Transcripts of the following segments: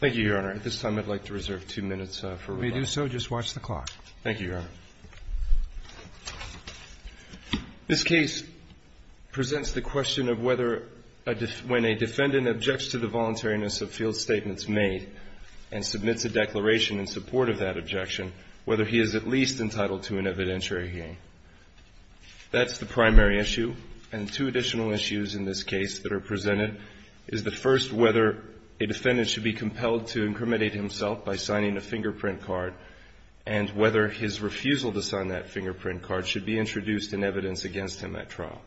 Thank you, Your Honor. At this time, I'd like to reserve two minutes for rebuttal. If you do so, just watch the clock. Thank you, Your Honor. This case presents the question of whether when a defendant objects to the voluntariness of field statements made and submits a declaration in support of that objection, whether he is at least entitled to an evidentiary gain. That's the primary issue. And two additional issues in this case that are presented is the first, whether a defendant should be compelled to incriminate himself by signing a fingerprint card and whether his refusal to sign that fingerprint card should be introduced in evidence against him at trial.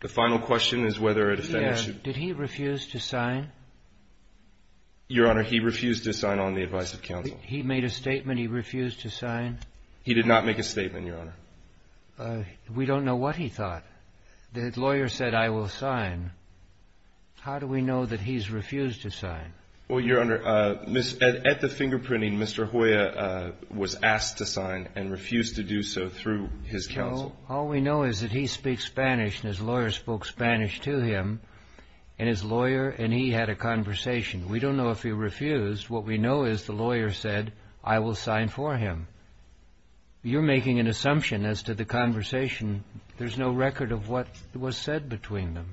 The final question is whether a defendant should Did he refuse to sign? Your Honor, he refused to sign on the advice of counsel. He made a statement, he refused to sign? He did not make a statement, Your Honor. We don't know what he thought. The lawyer said, I will sign. How do we know that he's refused to sign? Well, Your Honor, at the fingerprinting, Mr. Joya was asked to sign and refused to do so through his counsel. Joe, all we know is that he speaks Spanish and his lawyer spoke Spanish to him and his lawyer and he had a conversation. We don't know if he refused. What we know is the lawyer said, I will sign for him. You're making an assumption as to the conversation. There's no record of what was said between them.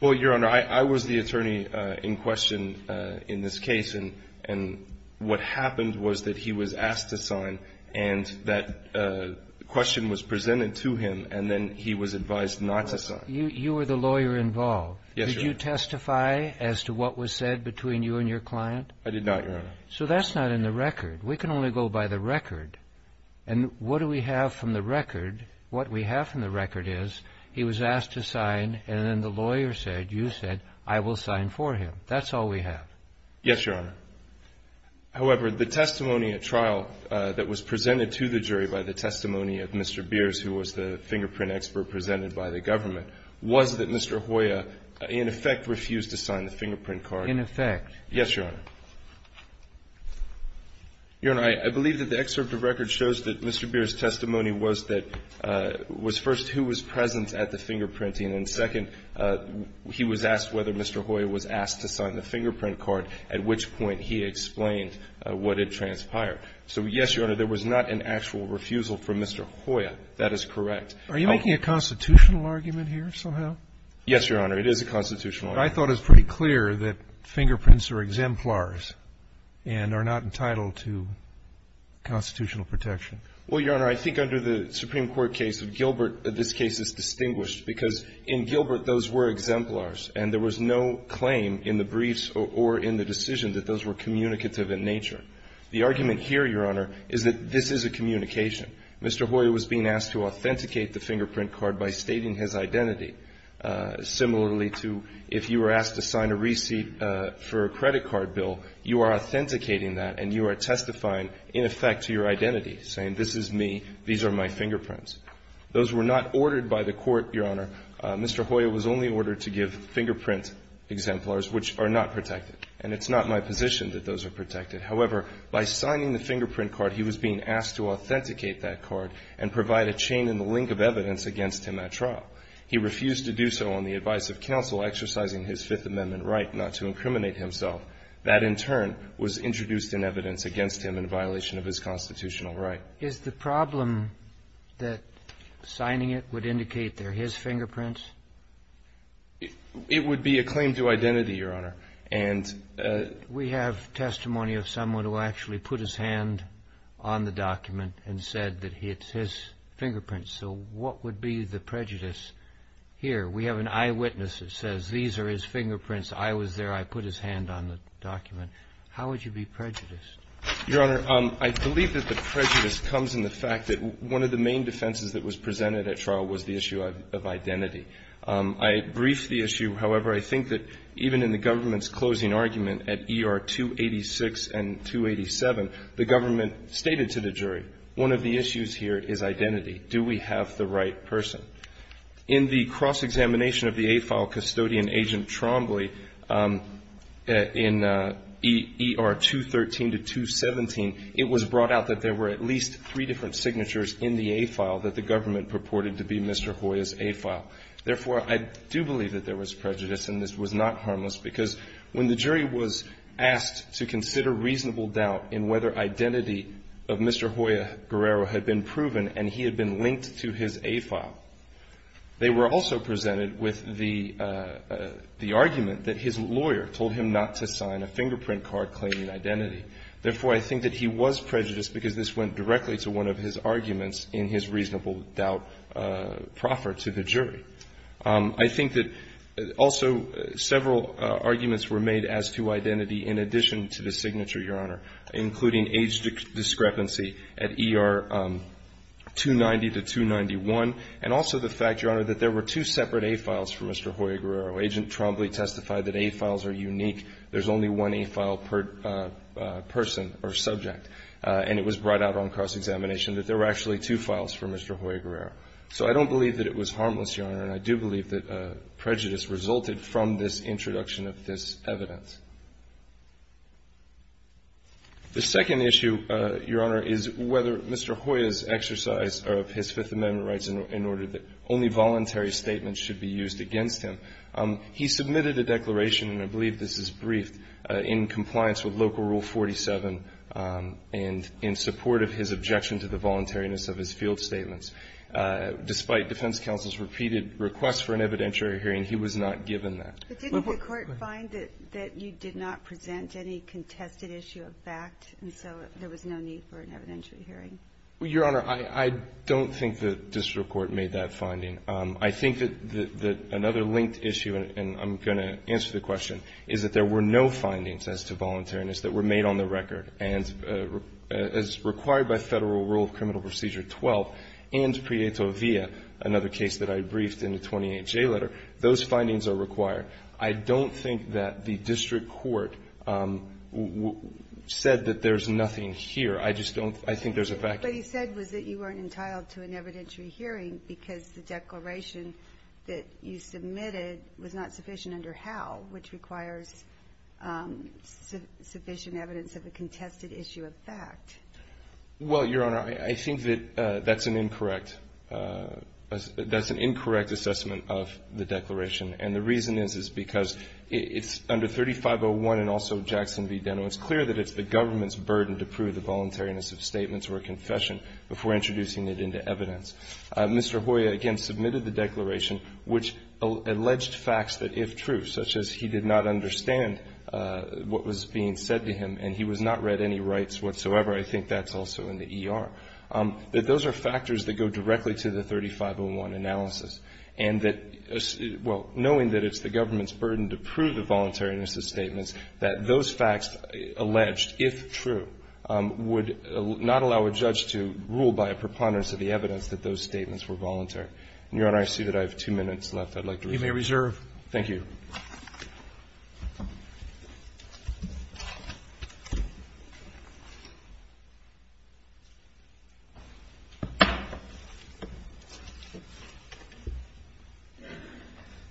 Well, Your Honor, I was the attorney in question in this case and what happened was that he was asked to sign and that question was presented to him and then he was advised not to sign. You were the lawyer involved. Yes, Your Honor. Did you testify as to what was said between you and your client? I did not, Your Honor. So that's not in the record. We can only go by the record. And what do we have from the record? What we have from the record is he was asked to sign and then the lawyer said, you said, I will sign for him. That's all we have. Yes, Your Honor. However, the testimony at trial that was presented to the jury by the testimony of Mr. Beers, who was the fingerprint expert presented by the government, was that Mr. Joya in effect refused to sign the fingerprint card. In effect. Yes, Your Honor. Your Honor, I believe that the excerpt of record shows that Mr. Beers' testimony was that, was first, who was present at the fingerprinting, and second, he was asked whether Mr. Joya was asked to sign the fingerprint card, at which point he explained what had transpired. So, yes, Your Honor, there was not an actual refusal from Mr. Joya. That is correct. Are you making a constitutional argument here somehow? Yes, Your Honor. It is a constitutional argument. But I thought it was pretty clear that fingerprints are exemplars and are not entitled to constitutional protection. Well, Your Honor, I think under the Supreme Court case of Gilbert, this case is distinguished because in Gilbert those were exemplars and there was no claim in the briefs or in the decision that those were communicative in nature. The argument here, Your Honor, is that this is a communication. Mr. Joya was being asked to authenticate the fingerprint card by stating his identity, similarly to if you were asked to sign a receipt for a credit card bill, you are authenticating that and you are testifying, in effect, to your identity, saying this is me, these are my fingerprints. Those were not ordered by the Court, Your Honor. Mr. Joya was only ordered to give fingerprint exemplars which are not protected, and it's not my position that those are protected. However, by signing the fingerprint card, he was being asked to authenticate himself. He refused to do so on the advice of counsel exercising his Fifth Amendment right not to incriminate himself. That, in turn, was introduced in evidence against him in violation of his constitutional right. Is the problem that signing it would indicate they're his fingerprints? It would be a claim to identity, Your Honor. And we have testimony of someone who actually put his hand on the document and said that it's his fingerprints. So what would be the prejudice here? We have an eyewitness that says these are his fingerprints, I was there, I put his hand on the document. How would you be prejudiced? Your Honor, I believe that the prejudice comes in the fact that one of the main defenses that was presented at trial was the issue of identity. I briefed the issue. However, I think that even in the government's closing argument at ER 286 and 287, the government stated to the jury, one of the issues here is identity. Do we have the right person? In the cross-examination of the A-file custodian, Agent Trombley, in ER 213 to 217, it was brought out that there were at least three different signatures in the A-file that the government purported to be Mr. Hoya's A-file. Therefore, I do believe that there was prejudice and this was not harmless, because when the jury was asked to consider reasonable doubt in whether identity of Mr. Hoya Guerrero had been proven and he had been linked to his A-file, they were also presented with the argument that his lawyer told him not to sign a fingerprint card claiming identity. Therefore, I think that he was prejudiced because this went directly to one of his arguments in his reasonable doubt proffer to the jury. I think that also several arguments were made as to identity in addition to the signature, Your Honor, including age discrepancy at ER 290 to 291 and also the fact, Your Honor, that there were two separate A-files for Mr. Hoya Guerrero. Agent Trombley testified that A-files are unique. There's only one A-file per person or subject. And it was brought out on cross-examination that there were actually two files for Mr. Hoya Guerrero. So I don't believe that it was harmless, Your Honor, and I do believe that prejudice resulted from this introduction of this evidence. The second issue, Your Honor, is whether Mr. Hoya's exercise of his Fifth Amendment rights in order that only voluntary statements should be used against him. He submitted a declaration, and I believe this is briefed, in compliance with Local Rule 47 and in support of his objection to the voluntariness of his field statements. Despite defense counsel's repeated requests for an evidentiary hearing, he was not given that. But didn't the Court find that you did not present any contested issue of fact, and so there was no need for an evidentiary hearing? Well, Your Honor, I don't think the district court made that finding. I think that another linked issue, and I'm going to answer the question, is that there were no findings as to voluntariness that were made on the record. And as required by Federal Rule of Criminal Procedure 12 and Prieto Via, another case that I briefed in the 28-J letter, those findings are required. I don't think that the district court said that there's nothing here. I just don't. I think there's a vacuum. What he said was that you weren't entitled to an evidentiary hearing because the declaration that you submitted was not sufficient under HAL, which requires sufficient evidence of a contested issue of fact. Well, Your Honor, I think that that's an incorrect – that's an incorrect assessment of the declaration. And the reason is, is because it's under 3501 and also Jackson v. Deno. It's clear that it's the government's burden to prove the voluntariness of statements or a confession before introducing it into evidence. Mr. Hoyer, again, submitted the declaration which alleged facts that if true, such as he did not understand what was being said to him and he was not read any rights whatsoever, I think that's also in the ER. But those are factors that go directly to the 3501 analysis. And that – well, knowing that it's the government's burden to prove the voluntariness of statements, that those facts alleged, if true, would not allow a judge to rule by a preponderance of the evidence that those statements were voluntary. And, Your Honor, I see that I have two minutes left. I'd like to reserve. You may reserve. Thank you.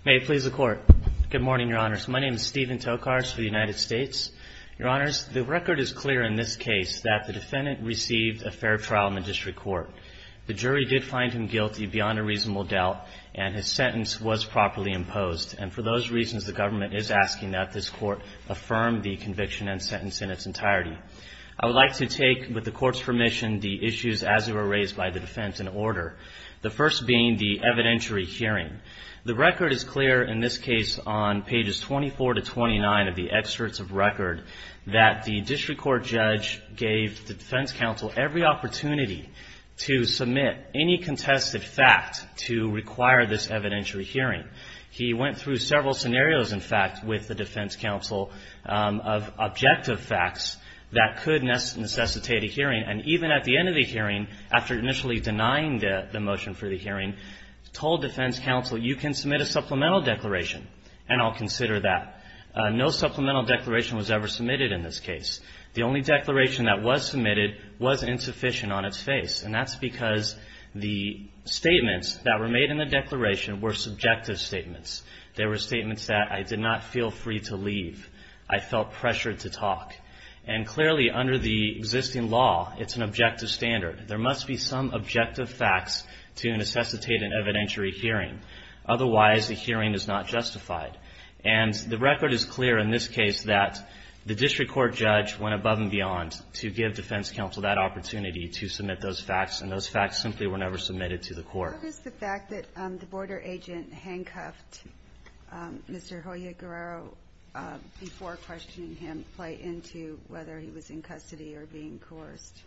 May it please the Court. Good morning, Your Honors. My name is Stephen Tokars for the United States. Your Honors, the record is clear in this case that the defendant received a fair trial in the district court. The jury did find him guilty beyond a reasonable doubt, and his sentence was properly imposed. And for those reasons, the government is asking that this Court affirm the conviction and sentence in its entirety. I would like to take, with the Court's permission, the issues as they were raised by the defense in order, the first being the evidentiary hearing. The record is clear in this case on pages 24 to 29 of the excerpts of record that the district court judge gave the defense counsel every opportunity to submit any contested fact to require this evidentiary hearing. He went through several scenarios, in fact, with the defense counsel of objective facts that could necessitate a hearing. And even at the end of the hearing, after initially denying the motion for the hearing, told defense counsel, you can submit a supplemental declaration, and I'll consider that. No supplemental declaration was ever submitted in this case. The only declaration that was submitted was insufficient on its face. And that's because the statements that were made in the declaration were subjective statements. They were statements that I did not feel free to leave. I felt pressured to talk. And clearly, under the existing law, it's an objective standard. There must be some objective facts to necessitate an evidentiary hearing. Otherwise, the hearing is not justified. And the record is clear in this case that the district court judge went above and beyond the facts, and those facts simply were never submitted to the court. What is the fact that the border agent handcuffed Mr. Joliot-Guerrero before questioning him, play into whether he was in custody or being coerced?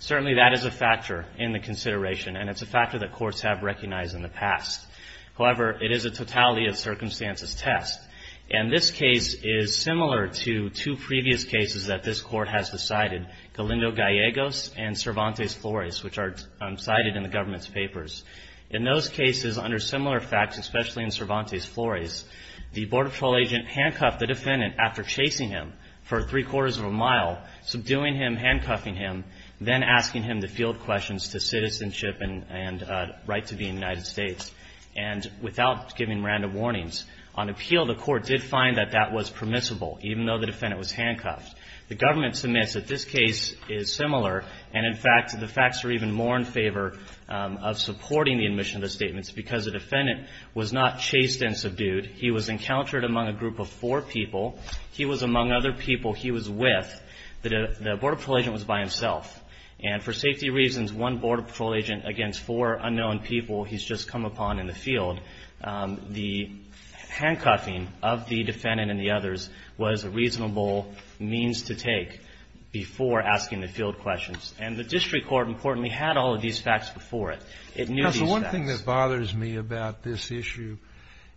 Certainly, that is a factor in the consideration, and it's a factor that courts have recognized in the past. However, it is a totality of circumstances test. And this case is similar to two previous cases that this Court has decided, Galindo Gallegos and Cervantes Flores, which are cited in the government's papers. In those cases, under similar facts, especially in Cervantes Flores, the border patrol agent handcuffed the defendant after chasing him for three-quarters of a mile, subduing him, handcuffing him, then asking him to field questions to citizenship and right to be in the United States, and without giving random warnings. On appeal, the Court did find that that was permissible, even though the defendant was handcuffed. The government submits that this case is similar, and in fact, the facts are even more in favor of supporting the admission of the statements, because the defendant was not chased and subdued. He was encountered among a group of four people. He was among other people he was with. The border patrol agent was by himself. And for safety reasons, one border patrol agent against four unknown people he's just come upon in the field, the handcuffing of the defendant and the others was a step to take before asking the field questions. And the District Court, importantly, had all of these facts before it. JUSTICE SCALIA. Counsel, one thing that bothers me about this issue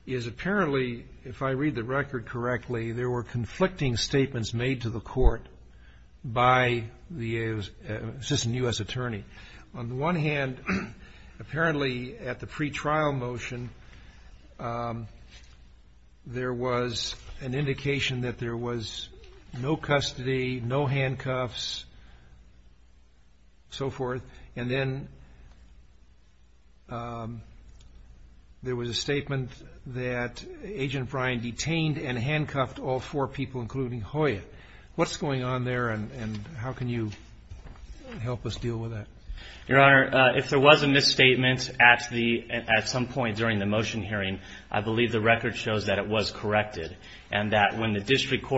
is, apparently, if I read the record correctly, there were conflicting statements made to the Court by the assistant U.S. attorney. On the one hand, apparently, at the pretrial motion, there was an indication that there was no custody, no handcuffs, so forth. And then there was a statement that Agent Bryan detained and handcuffed all four people, including Hoya. What's going on there, and how can you help us deal with that? MR. GARRETT. Your Honor, if there was a misstatement at some point during the motion hearing, I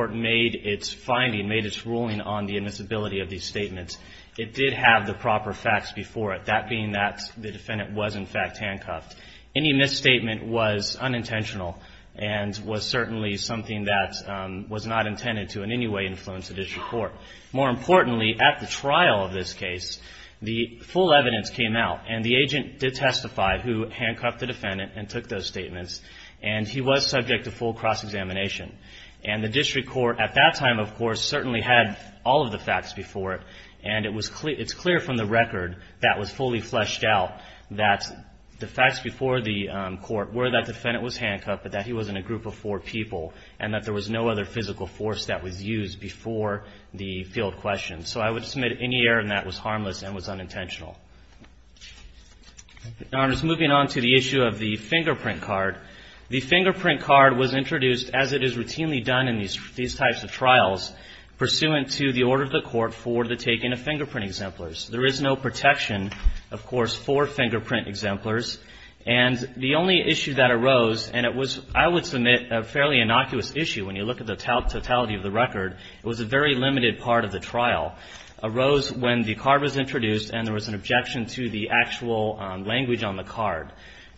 made its finding, made its ruling on the admissibility of these statements. It did have the proper facts before it, that being that the defendant was, in fact, handcuffed. Any misstatement was unintentional and was certainly something that was not intended to in any way influence the District Court. More importantly, at the trial of this case, the full evidence came out, and the agent did testify, who handcuffed the defendant and took those statements, and he was subject to full cross-examination. And the District Court, at that time, of course, certainly had all of the facts before it, and it's clear from the record that was fully fleshed out that the facts before the court were that the defendant was handcuffed, but that he was in a group of four people, and that there was no other physical force that was used before the field questions. So I would submit any error in that was harmless and was unintentional. Your Honors, moving on to the issue of the fingerprint card. The fingerprint card was introduced as it is routinely done in these types of trials pursuant to the order of the court for the taking of fingerprint exemplars. There is no protection, of course, for fingerprint exemplars. And the only issue that arose, and it was, I would submit, a fairly innocuous issue when you look at the totality of the record. It was a very limited part of the trial. It arose when the card was introduced and there was an objection to the actual language on the card.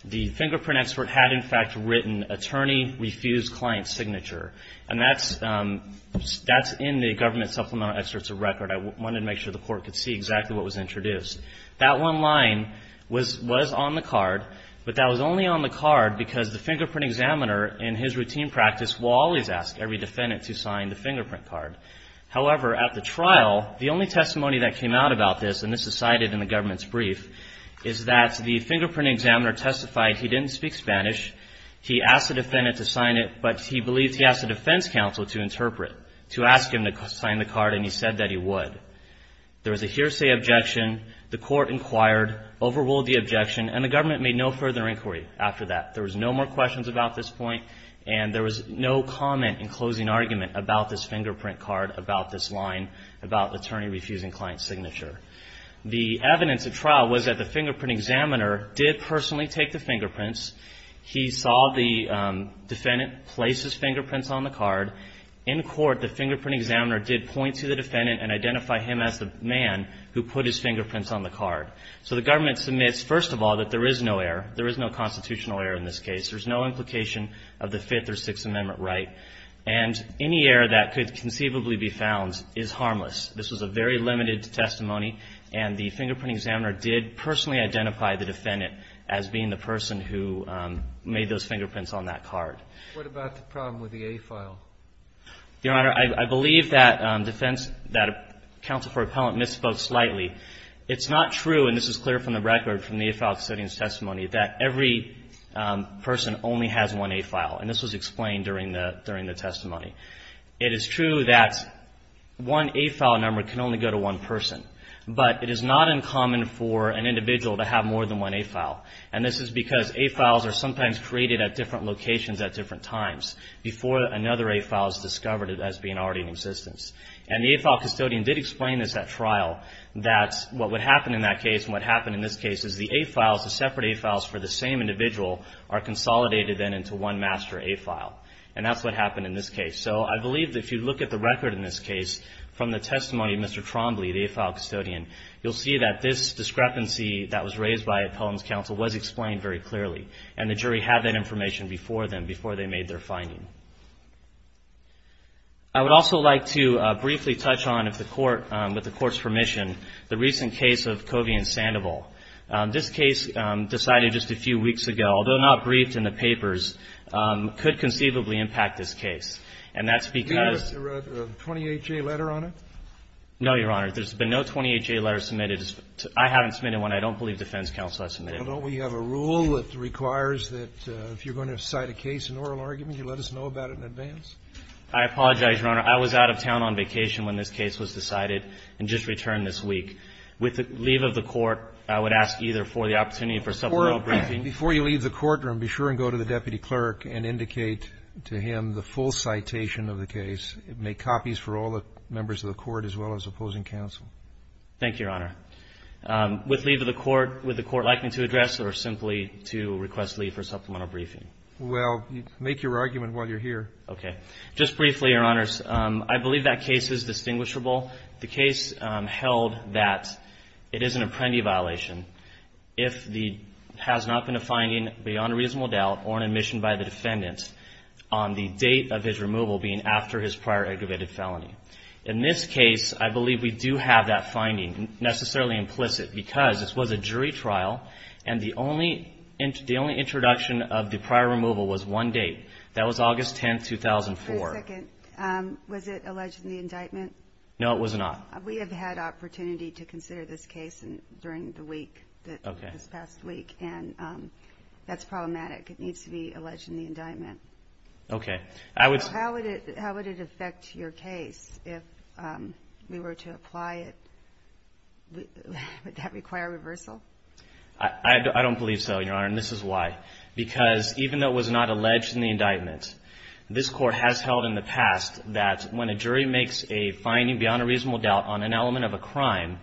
The fingerprint expert had, in fact, written attorney refused client signature. And that's in the government supplemental excerpts of record. I wanted to make sure the court could see exactly what was introduced. That one line was on the card, but that was only on the card because the fingerprint examiner in his routine practice will always ask every defendant to sign the fingerprint card. However, at the trial, the only testimony that came out about this, and this is brief, is that the fingerprint examiner testified he didn't speak Spanish. He asked the defendant to sign it, but he believed he asked the defense counsel to interpret, to ask him to sign the card, and he said that he would. There was a hearsay objection. The court inquired, overruled the objection, and the government made no further inquiry after that. There was no more questions about this point, and there was no comment in closing argument about this fingerprint card, about this line, about attorney refusing client signature. The evidence at trial was that the fingerprint examiner did personally take the fingerprints. He saw the defendant place his fingerprints on the card. In court, the fingerprint examiner did point to the defendant and identify him as the man who put his fingerprints on the card. So the government submits, first of all, that there is no error. There is no constitutional error in this case. There's no implication of the Fifth or Sixth Amendment right, and any error that could conceivably be found is harmless. This was a very limited testimony, and the fingerprint examiner did personally identify the defendant as being the person who made those fingerprints on that card. What about the problem with the A file? Your Honor, I believe that defense, that counsel for appellant misspoke slightly. It's not true, and this is clear from the record from the A file setting's testimony, that every person only has one A file. And this was explained during the testimony. It is true that one A file number can only go to one person, but it is not uncommon for an individual to have more than one A file. And this is because A files are sometimes created at different locations at different times before another A file is discovered as being already in existence. And the A file custodian did explain this at trial, that what would happen in that case and what happened in this case is the A files, the separate A files for the same individual, are consolidated then into one master A file. And that's what happened in this case. So I believe that if you look at the record in this case from the testimony of Mr. Trombley, the A file custodian, you'll see that this discrepancy that was raised by appellant's counsel was explained very clearly. And the jury had that information before them, before they made their finding. I would also like to briefly touch on, if the court, with the court's permission, the recent case of Covey and Sandoval. This case decided just a few weeks ago, although not briefed in the papers, could conceivably impact this case. And that's because of the 28-J letter on it? No, Your Honor. There's been no 28-J letter submitted. I haven't submitted one. I don't believe defense counsel has submitted one. Well, don't we have a rule that requires that if you're going to cite a case in oral argument, you let us know about it in advance? I apologize, Your Honor. I was out of town on vacation when this case was decided and just returned this With the leave of the court, I would ask either for the opportunity for several briefings. Before you leave the courtroom, be sure and go to the deputy clerk and indicate to him the full citation of the case. Make copies for all the members of the court as well as opposing counsel. Thank you, Your Honor. With leave of the court, would the court like me to address or simply to request leave for supplemental briefing? Well, make your argument while you're here. Okay. Just briefly, Your Honors, I believe that case is distinguishable. The case held that it is an apprendee violation if there has not been a finding beyond a reasonable doubt or an admission by the defendant on the date of his removal being after his prior aggravated felony. In this case, I believe we do have that finding necessarily implicit because this was a jury trial and the only introduction of the prior removal was one date. That was August 10, 2004. Wait a second. Was it alleged in the indictment? No, it was not. We have had opportunity to consider this case during the week, this past week, and that's problematic. It needs to be alleged in the indictment. Okay. How would it affect your case if we were to apply it? Would that require reversal? I don't believe so, Your Honor, and this is why. Because even though it was not alleged in the indictment, this Court has held in the past that when a jury makes a finding beyond a reasonable doubt on an element of a crime,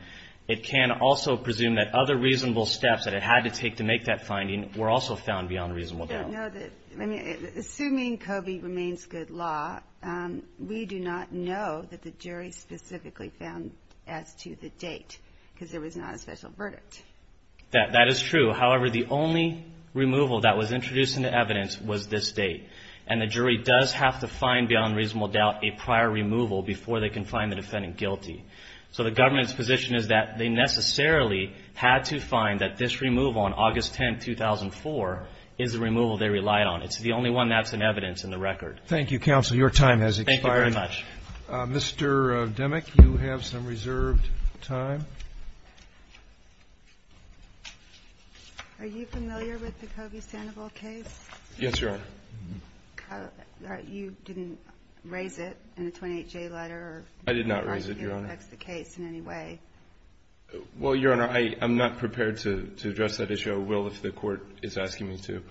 it can also presume that other reasonable steps that it had to take to make that finding were also found beyond a reasonable doubt. Assuming Coby remains good law, we do not know that the jury specifically found as to the date, because there was not a special verdict. That is true. However, the only removal that was introduced into evidence was this date, and the jury does have to find beyond reasonable doubt a prior removal before they can find the defendant guilty. So the government's position is that they necessarily had to find that this removal on August 10, 2004 is the removal they relied on. It's the only one that's in evidence in the record. Your time has expired. Thank you very much. Mr. Demick, you have some reserved time. Are you familiar with the Coby-Sandoval case? Yes, Your Honor. You didn't raise it in the 28-J letter? I did not raise it, Your Honor. Are you going to fix the case in any way? Well, Your Honor, I'm not prepared to address that issue. I will if the Court is asking me to.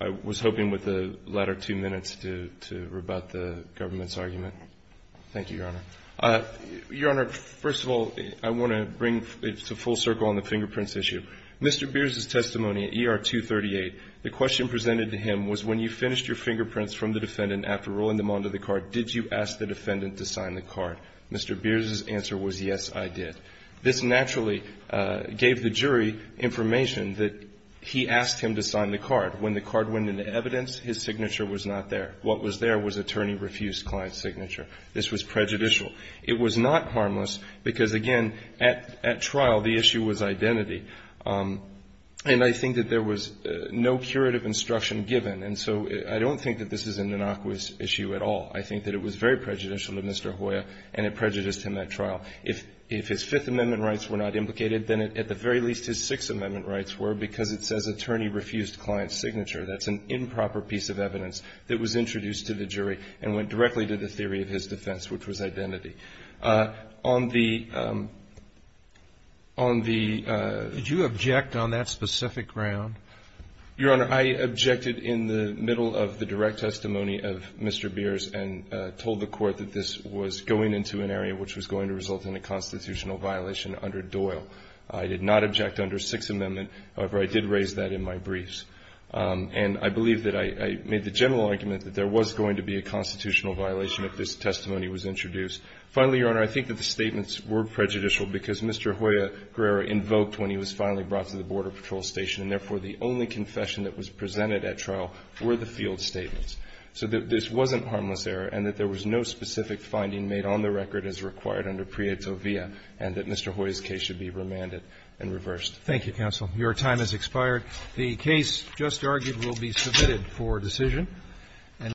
I was hoping with the latter two minutes to rebut the government's argument. Thank you, Your Honor. Your Honor, first of all, I want to bring it to full circle on the fingerprints issue. Mr. Beers' testimony at ER 238, the question presented to him was, when you finished your fingerprints from the defendant after rolling them onto the card, did you ask the defendant to sign the card? Mr. Beers' answer was, yes, I did. This naturally gave the jury information that he asked him to sign the card. When the card went into evidence, his signature was not there. What was there was attorney refused client's signature. This was prejudicial. It was not harmless because, again, at trial, the issue was identity. And I think that there was no curative instruction given. And so I don't think that this is an innocuous issue at all. I think that it was very prejudicial to Mr. Hoya, and it prejudiced him at trial. If his Fifth Amendment rights were not implicated, then at the very least his Sixth Amendment rights were because it says attorney refused client's signature. That's an improper piece of evidence that was introduced to the jury and went directly to the theory of his defense, which was identity. On the — Did you object on that specific ground? Your Honor, I objected in the middle of the direct testimony of Mr. Beers and told the Court that this was going into an area which was going to result in a constitutional violation under Doyle. I did not object under Sixth Amendment. However, I did raise that in my briefs. And I believe that I made the general argument that there was going to be a constitutional violation if this testimony was introduced. Finally, Your Honor, I think that the statements were prejudicial because Mr. Hoya Guerrero invoked when he was finally brought to the Border Patrol Station, and therefore the only confession that was presented at trial were the field statements. So that this wasn't harmless error and that there was no specific finding made on the record as required under Prieto via, and that Mr. Hoya's case should be remanded and reversed. Thank you, counsel. Your time has expired. The case just argued will be submitted for decision.